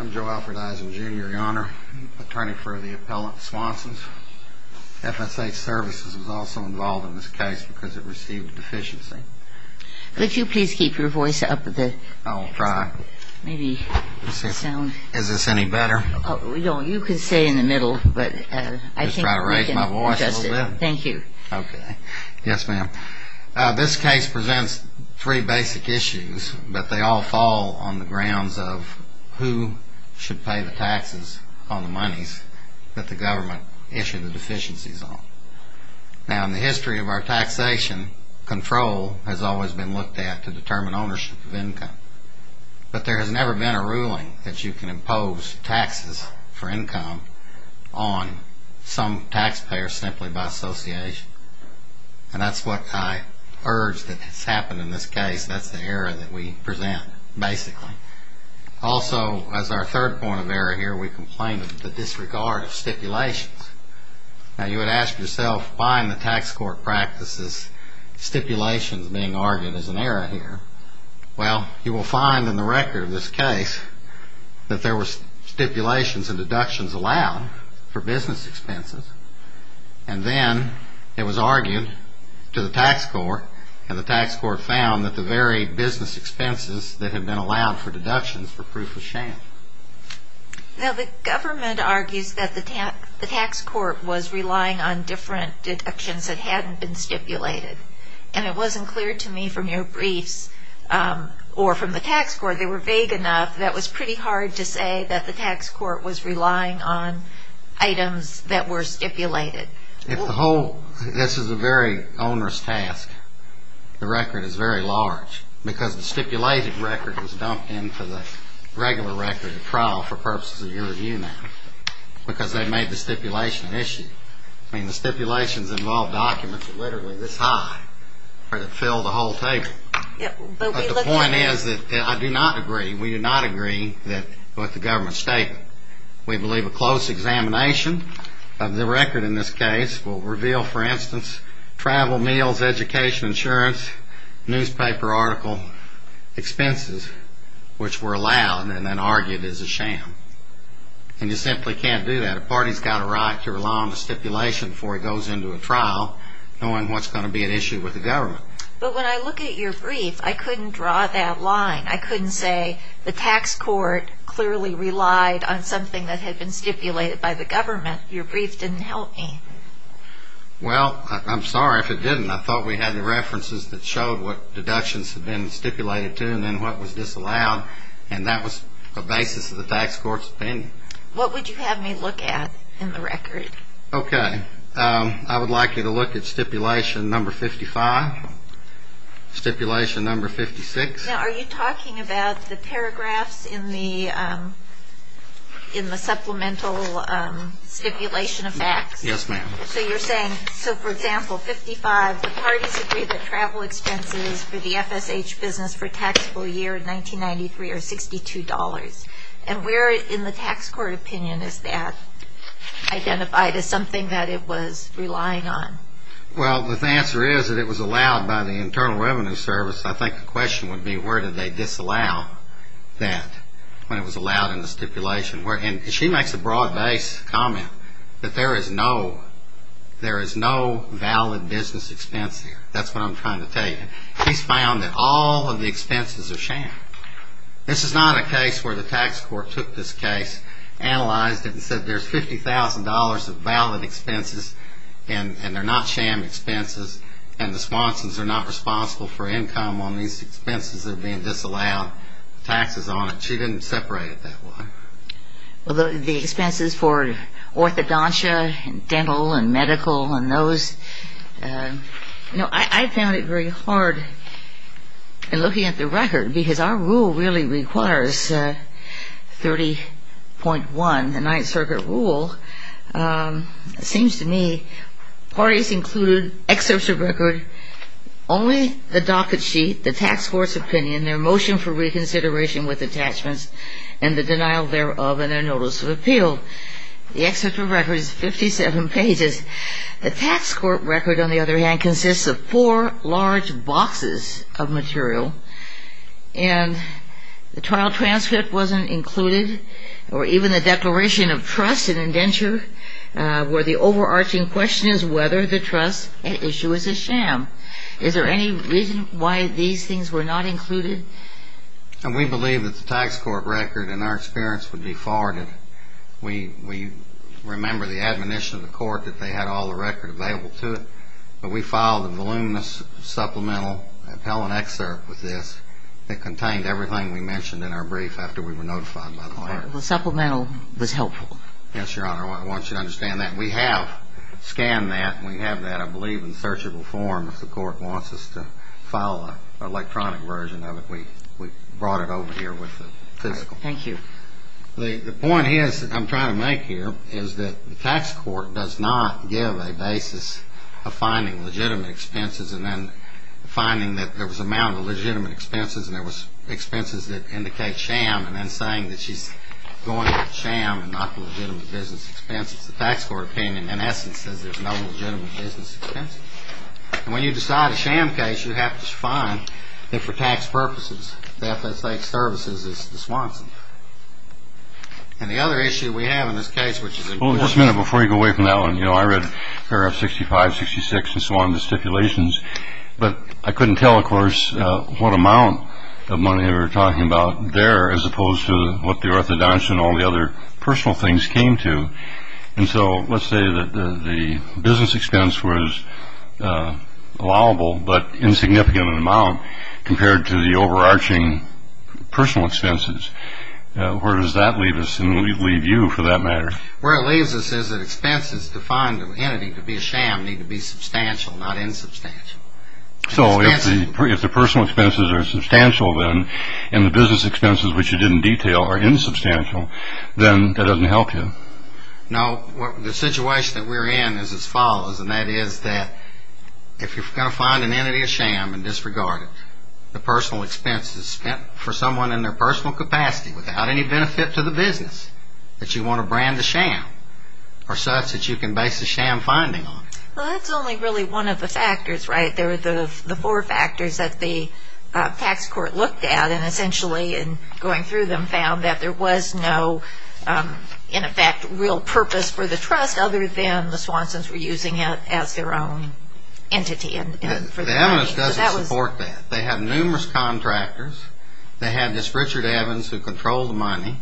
I'm Joe Alford Eisen Jr. Your Honor, attorney for the appellant Swanson's FSA services was also involved in this case because it received a deficiency. Could you please keep your voice up? I will try. Is this any better? You can stay in the middle. Just try to raise my voice a little bit. Thank you. Okay. Yes, ma'am. This case presents three basic issues, but they all fall on the grounds of who should pay the taxes on the monies that the government issued the deficiencies on. Now, in the history of our taxation, control has always been looked at to determine ownership of income. But there has never been a ruling that you can impose taxes for income on some taxpayer simply by association. And that's what I urge that has happened in this case. That's the error that we present, basically. Also, as our third point of error here, we complained of the disregard of stipulations. Now, you would ask yourself, fine, the tax court practices stipulations being argued as an error here. Well, you will find in the record of this case that there were stipulations and deductions allowed for business expenses. And then it was argued to the tax court, and the tax court found that the very business expenses that had been allowed for deductions were proof of sham. Now, the government argues that the tax court was relying on different deductions that hadn't been stipulated. And it wasn't clear to me from your briefs, or from the tax court, they were vague enough that it was pretty hard to say that the tax court was relying on items that were stipulated. This is a very onerous task. The record is very large. Because the stipulated record was dumped into the regular record of trial for purposes of your review now. Because they made the stipulation an issue. I mean, the stipulations involved documents that are literally this high that fill the whole table. But the point is that I do not agree, we do not agree with the government's statement. We believe a close examination of the record in this case will reveal, for instance, travel, meals, education, insurance, newspaper article expenses, which were allowed and then argued as a sham. And you simply can't do that. A party's got a right to rely on the stipulation before it goes into a trial, knowing what's going to be an issue with the government. But when I look at your brief, I couldn't draw that line. I couldn't say the tax court clearly relied on something that had been stipulated by the government. Your brief didn't help me. Well, I'm sorry if it didn't. I thought we had the references that showed what deductions had been stipulated to and then what was disallowed. And that was the basis of the tax court's opinion. What would you have me look at in the record? Okay. I would like you to look at stipulation number 55, stipulation number 56. Now, are you talking about the paragraphs in the supplemental stipulation of facts? Yes, ma'am. So you're saying, so for example, 55, the parties agree that travel expenses for the FSH business for taxable year 1993 are $62. And where in the tax court opinion is that identified as something that it was relying on? Well, the answer is that it was allowed by the Internal Revenue Service. I think the question would be where did they disallow that when it was allowed in the stipulation? And she makes a broad-based comment that there is no valid business expense here. That's what I'm trying to tell you. She's found that all of the expenses are sham. This is not a case where the tax court took this case, analyzed it, and said there's $50,000 of valid expenses, and they're not sham expenses, and the sponsors are not responsible for income on these expenses that are being disallowed, taxes on it. She didn't separate it that way. Well, the expenses for orthodontia and dental and medical and those, you know, I found it very hard in looking at the record because our rule really requires 30.1, the Ninth Circuit rule. It seems to me parties include excerpts of record, only the docket sheet, the tax court's opinion, their motion for reconsideration with attachments, and the denial thereof and their notice of appeal. The excerpt of record is 57 pages. The tax court record, on the other hand, consists of four large boxes of material, and the trial transcript wasn't included or even the declaration of trust and indenture where the overarching question is whether the trust at issue is a sham. Is there any reason why these things were not included? We believe that the tax court record, in our experience, would be forwarded. We remember the admonition of the court that they had all the record available to them, but we filed a voluminous supplemental appellant excerpt with this that contained everything we mentioned in our brief after we were notified by the court. The supplemental was helpful. Yes, Your Honor. I want you to understand that. We have scanned that, and we have that, I believe, in searchable form. If the court wants us to file an electronic version of it, we brought it over here with the fiscal. Thank you. The point I'm trying to make here is that the tax court does not give a basis of finding legitimate expenses and then finding that there was amount of legitimate expenses and there was expenses that indicate sham and then saying that she's going with sham and not legitimate business expenses. The tax court opinion, in essence, says there's no legitimate business expenses. When you decide a sham case, you have to find that, for tax purposes, the FSH services is the Swanson. The other issue we have in this case, which is important. Just a minute before you go away from that one. I read paragraph 65, 66, and so on, the stipulations, but I couldn't tell, of course, what amount of money they were talking about there as opposed to what the orthodontist and all the other personal things came to. Let's say that the business expense was allowable but insignificant in amount compared to the overarching personal expenses. Where does that leave us and leave you, for that matter? Where it leaves us is that expenses to find an entity to be a sham need to be substantial, not insubstantial. If the personal expenses are substantial, then, and the business expenses, which you didn't detail, are insubstantial, then that doesn't help you. No, the situation that we're in is as follows, and that is that if you're going to find an entity a sham and disregard it, the personal expenses spent for someone in their personal capacity without any benefit to the business that you want to brand the sham are such that you can base the sham finding on. Well, that's only really one of the factors, right? There are the four factors that the tax court looked at, and essentially in going through them found that there was no, in effect, real purpose for the trust other than the Swansons were using it as their own entity. The evidence doesn't support that. They had numerous contractors. They had this Richard Evans who controlled the money.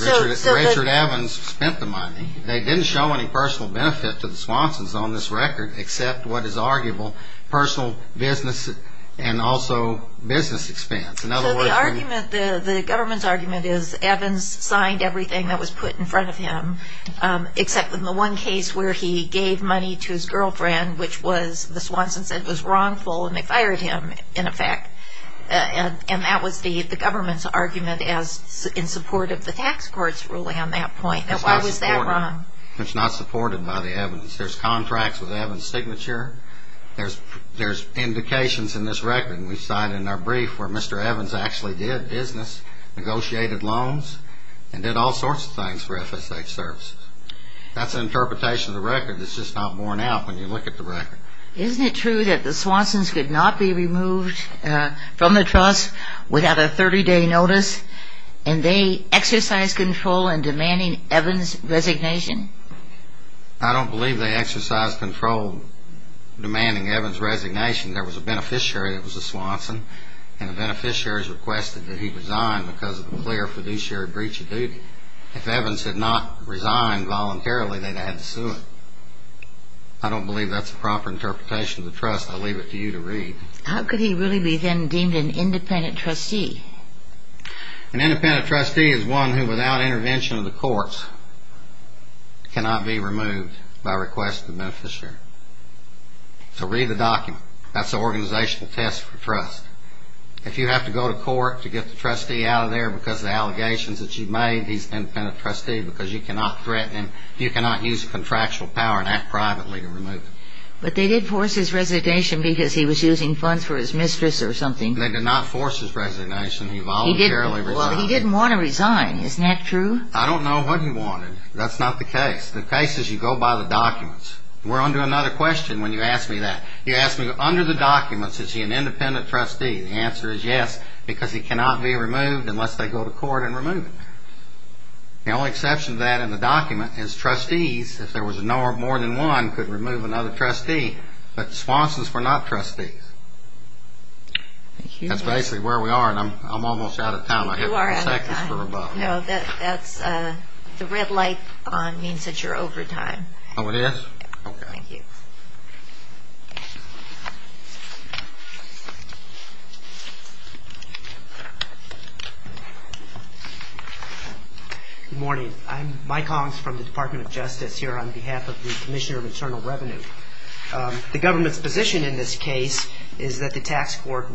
Richard Evans spent the money. They didn't show any personal benefit to the Swansons on this record except what is arguable personal business and also business expense. So the argument, the government's argument is Evans signed everything that was put in front of him except in the one case where he gave money to his girlfriend, which was the Swansons said was wrongful, and they fired him, in effect, and that was the government's argument in support of the tax court's ruling on that point. Why was that wrong? It's not supported by the evidence. There's contracts with Evans' signature. There's indications in this record, and we cite in our brief, where Mr. Evans actually did business, negotiated loans, and did all sorts of things for FSA services. That's an interpretation of the record that's just not borne out when you look at the record. Isn't it true that the Swansons could not be removed from the trust without a 30-day notice, and they exercised control in demanding Evans' resignation? I don't believe they exercised control in demanding Evans' resignation. There was a beneficiary that was a Swanson, and the beneficiaries requested that he resign because of a clear fiduciary breach of duty. If Evans had not resigned voluntarily, they'd have had to sue him. I don't believe that's a proper interpretation of the trust. I'll leave it to you to read. How could he really be then deemed an independent trustee? An independent trustee is one who, without intervention of the courts, cannot be removed by request of the beneficiary. So read the document. That's the organizational test for trust. If you have to go to court to get the trustee out of there because of the allegations that you've made, he's an independent trustee because you cannot threaten him. You cannot use contractual power and act privately to remove him. But they did force his resignation because he was using funds for his mistress or something. They did not force his resignation. He voluntarily resigned. Well, he didn't want to resign. Isn't that true? I don't know what he wanted. That's not the case. The case is you go by the documents. We're onto another question when you ask me that. You ask me, under the documents, is he an independent trustee? The answer is yes because he cannot be removed unless they go to court and remove him. The only exception to that in the document is trustees, if there was more than one, could remove another trustee. But Swanson's were not trustees. That's basically where we are, and I'm almost out of time. You are out of time. No, that's the red light on means that you're over time. Oh, it is? Okay. Thank you. Good morning. I'm Mike Hongs from the Department of Justice here on behalf of the Commissioner of Internal Revenue. The government's position in this case is that the tax court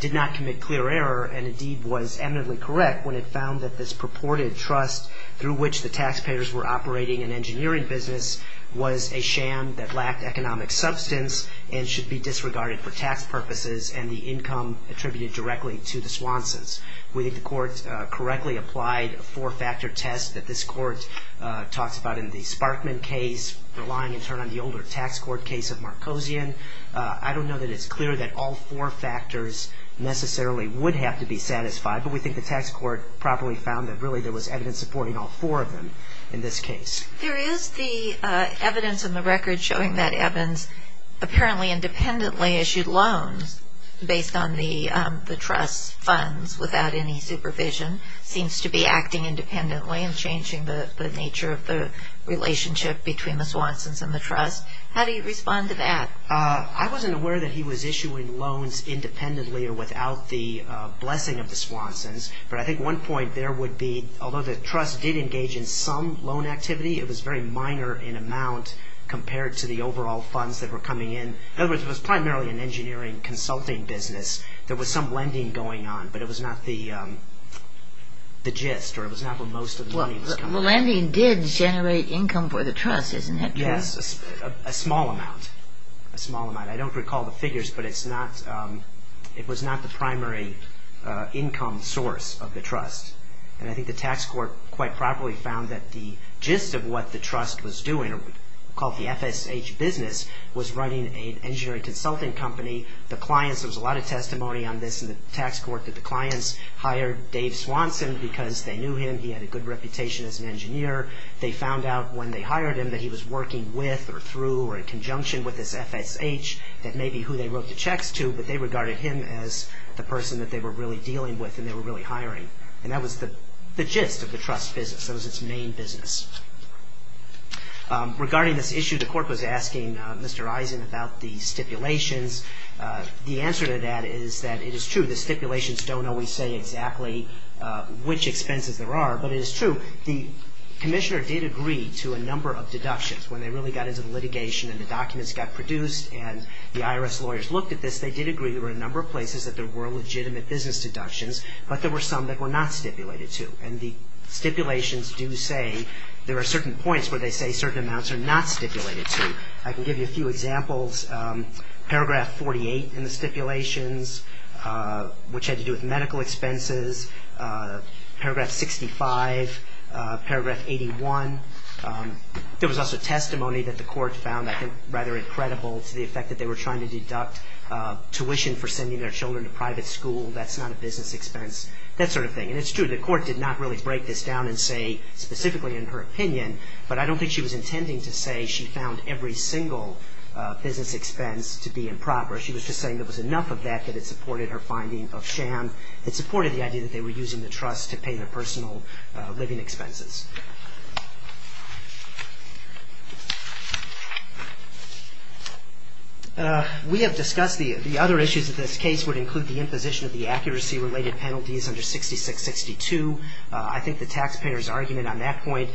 did not commit clear error and, indeed, was eminently correct when it found that this purported trust through which the taxpayers were operating an engineering business was a sham that lacked economic substance and should be disregarded for tax purposes and the income attributed directly to the Swansons. We think the court correctly applied a four-factor test that this court talks about in the Sparkman case, relying in turn on the older tax court case of Markosian. I don't know that it's clear that all four factors necessarily would have to be satisfied, but we think the tax court properly found that, really, there was evidence supporting all four of them in this case. There is the evidence in the record showing that Evans apparently independently issued loans based on the trust's funds without any supervision. It seems to be acting independently and changing the nature of the relationship between the Swansons and the trust. How do you respond to that? I wasn't aware that he was issuing loans independently or without the blessing of the Swansons, but I think one point there would be, although the trust did engage in some loan activity, it was very minor in amount compared to the overall funds that were coming in. In other words, it was primarily an engineering consulting business. There was some lending going on, but it was not the gist, or it was not where most of the money was coming from. Well, lending did generate income for the trust, isn't it? Yes, a small amount. I don't recall the figures, but it was not the primary income source of the trust, and I think the tax court quite properly found that the gist of what the trust was doing, called the FSH business, was running an engineering consulting company. There was a lot of testimony on this in the tax court that the clients hired Dave Swanson because they knew him. He had a good reputation as an engineer. They found out when they hired him that he was working with or through or in conjunction with this FSH that maybe who they wrote the checks to, but they regarded him as the person that they were really dealing with and they were really hiring, and that was the gist of the trust business. That was its main business. Regarding this issue, the court was asking Mr. Eisen about the stipulations. The answer to that is that it is true. The stipulations don't always say exactly which expenses there are, but it is true. The commissioner did agree to a number of deductions when they really got into the litigation and the documents got produced and the IRS lawyers looked at this. They did agree there were a number of places that there were legitimate business deductions, but there were some that were not stipulated to, and the stipulations do say there are certain points where they say certain amounts are not stipulated to. I can give you a few examples. Paragraph 48 in the stipulations, which had to do with medical expenses. Paragraph 65. Paragraph 81. There was also testimony that the court found, I think, rather incredible to the effect that they were trying to deduct tuition for sending their children to private school. That's not a business expense. That sort of thing, and it's true. The court did not really break this down and say specifically in her opinion, but I don't think she was intending to say she found every single business expense to be improper. She was just saying there was enough of that that it supported her finding of sham. It supported the idea that they were using the trust to pay their personal living expenses. We have discussed the other issues that this case would include, the imposition of the accuracy-related penalties under 6662. I think the taxpayer's argument on that point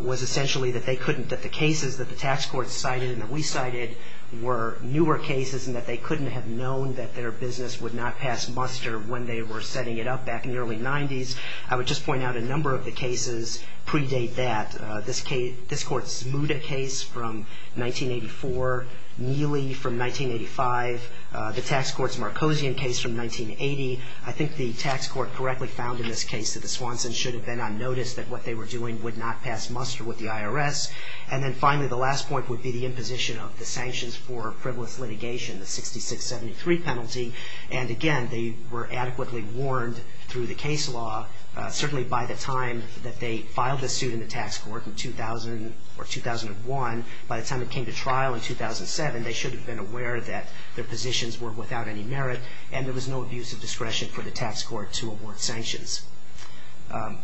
was essentially that they couldn't, that the cases that the tax court cited and that we cited were newer cases and that they couldn't have known that their business would not pass muster when they were setting it up back in the early 90s. I would just point out a number of the cases predate that. This court's Muda case from 1984, Neely from 1985, the tax court's Marcosian case from 1980. I think the tax court correctly found in this case that the Swansons should have been on notice that what they were doing would not pass muster with the IRS. And then finally, the last point would be the imposition of the sanctions for frivolous litigation, the 6673 penalty. And again, they were adequately warned through the case law, certainly by the time that they filed this suit in the tax court in 2000 or 2001. By the time it came to trial in 2007, they should have been aware that their positions were without any merit and there was no abuse of discretion for the tax court to award sanctions.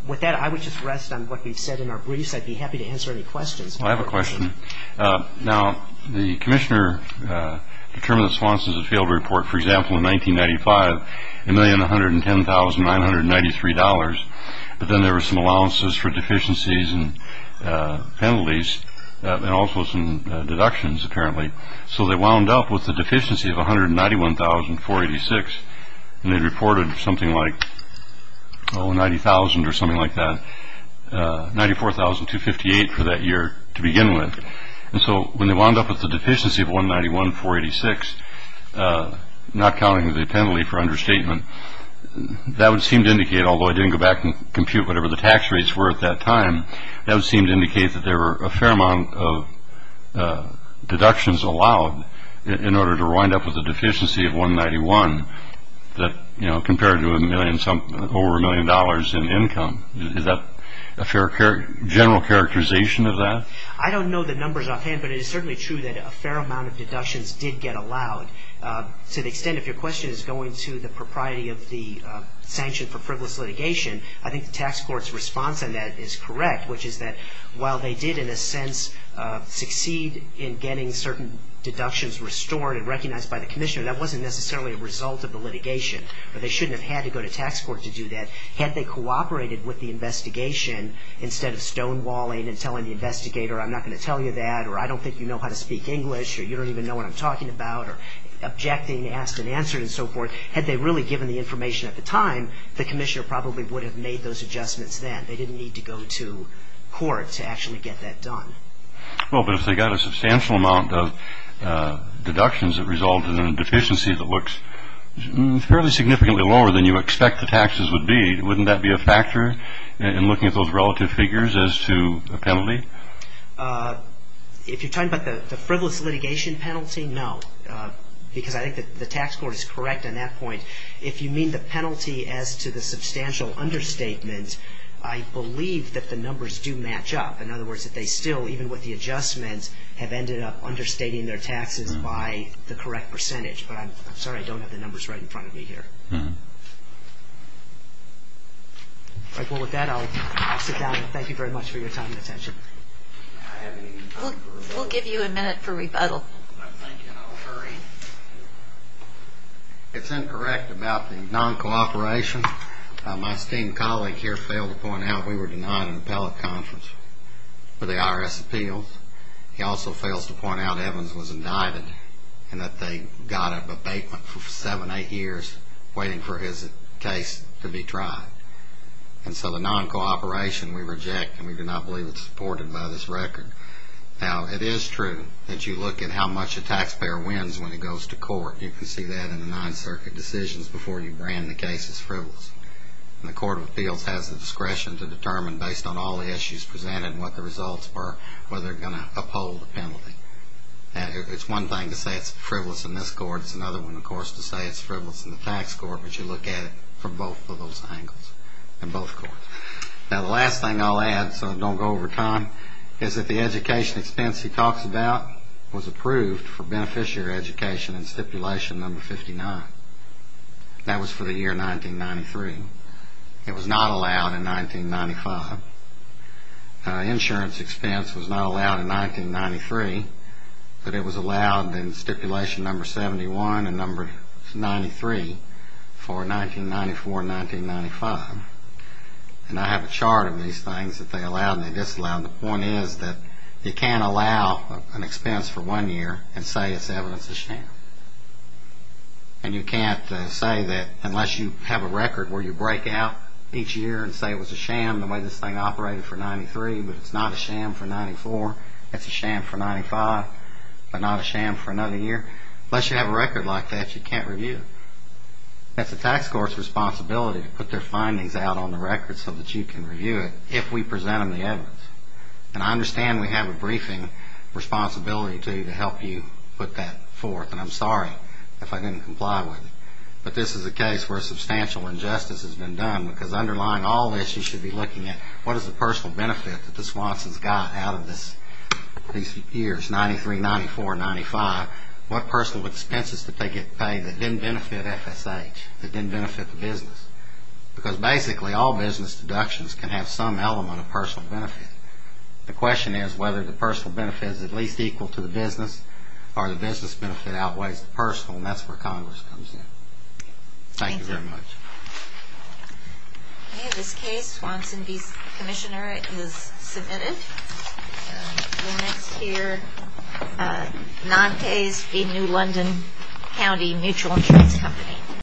With that, I would just rest on what we've said in our briefs. I'd be happy to answer any questions. I have a question. Now, the commissioner determined that Swansons had failed to report, for example, in 1995, $1,110,993. But then there were some allowances for deficiencies and penalties and also some deductions, apparently. So they wound up with a deficiency of $191,486. And they reported something like $90,000 or something like that, $94,258 for that year to begin with. And so when they wound up with a deficiency of $191,486, not counting the penalty for understatement, that would seem to indicate, although I didn't go back and compute whatever the tax rates were at that time, that would seem to indicate that there were a fair amount of deductions allowed in order to wind up with a deficiency of $191 compared to over a million dollars in income. Is that a general characterization of that? I don't know the numbers offhand, but it is certainly true that a fair amount of deductions did get allowed. To the extent, if your question is going to the propriety of the sanction for frivolous litigation, I think the tax court's response on that is correct, which is that while they did, in a sense, succeed in getting certain deductions restored and recognized by the commissioner, that wasn't necessarily a result of the litigation, or they shouldn't have had to go to tax court to do that. Had they cooperated with the investigation instead of stonewalling and telling the investigator, I'm not going to tell you that, or I don't think you know how to speak English, or you don't even know what I'm talking about, or objecting, asked and answered, and so forth, had they really given the information at the time, the commissioner probably would have made those adjustments then. They didn't need to go to court to actually get that done. Well, but if they got a substantial amount of deductions that resulted in a deficiency that looks fairly significantly lower than you expect the taxes would be, wouldn't that be a factor in looking at those relative figures as to a penalty? If you're talking about the frivolous litigation penalty, no, because I think the tax court is correct on that point. If you mean the penalty as to the substantial understatement, I believe that the numbers do match up. In other words, that they still, even with the adjustments, have ended up understating their taxes by the correct percentage. But I'm sorry I don't have the numbers right in front of me here. Well, with that, I'll sit down and thank you very much for your time and attention. We'll give you a minute for rebuttal. It's incorrect about the non-cooperation. My esteemed colleague here failed to point out we were denied an appellate conference for the IRS appeals. He also fails to point out Evans was indicted and that they got an abatement for seven, eight years waiting for his case to be tried. And so the non-cooperation we reject, and we do not believe it's supported by this record. Now, it is true that you look at how much a taxpayer wins when it goes to court. You can see that in the Ninth Circuit decisions before you brand the case as frivolous. And the Court of Appeals has the discretion to determine, based on all the issues presented and what the results were, whether they're going to uphold the penalty. It's one thing to say it's frivolous in this court. It's another one, of course, to say it's frivolous in the tax court. But you look at it from both of those angles in both courts. Now, the last thing I'll add, so I don't go over time, is that the education expense he talks about was approved for beneficiary education in Stipulation No. 59. That was for the year 1993. It was not allowed in 1995. Insurance expense was not allowed in 1993. But it was allowed in Stipulation No. 71 and No. 93 for 1994 and 1995. And I have a chart of these things that they allowed and they disallowed. The point is that you can't allow an expense for one year and say it's evidence of sham. And you can't say that unless you have a record where you break out each year and say it was a sham the way this thing operated for 93, but it's not a sham for 94. It's a sham for 95, but not a sham for another year. Unless you have a record like that, you can't review it. That's the tax court's responsibility to put their findings out on the record so that you can review it if we present them the evidence. And I understand we have a briefing responsibility to help you put that forth, and I'm sorry if I didn't comply with it. But this is a case where substantial injustice has been done because underlying all this you should be looking at what is the personal benefit that the Swansons got out of these years, 93, 94, 95, what personal expenses did they get paid that didn't benefit FSH, that didn't benefit the business. Because basically all business deductions can have some element of personal benefit. The question is whether the personal benefit is at least equal to the business or the business benefit outweighs the personal, and that's where Congress comes in. Thank you very much. Okay, this case, Swanson v. Commissioner, is submitted. We'll next hear Nantes v. New London County Mutual Insurance Company.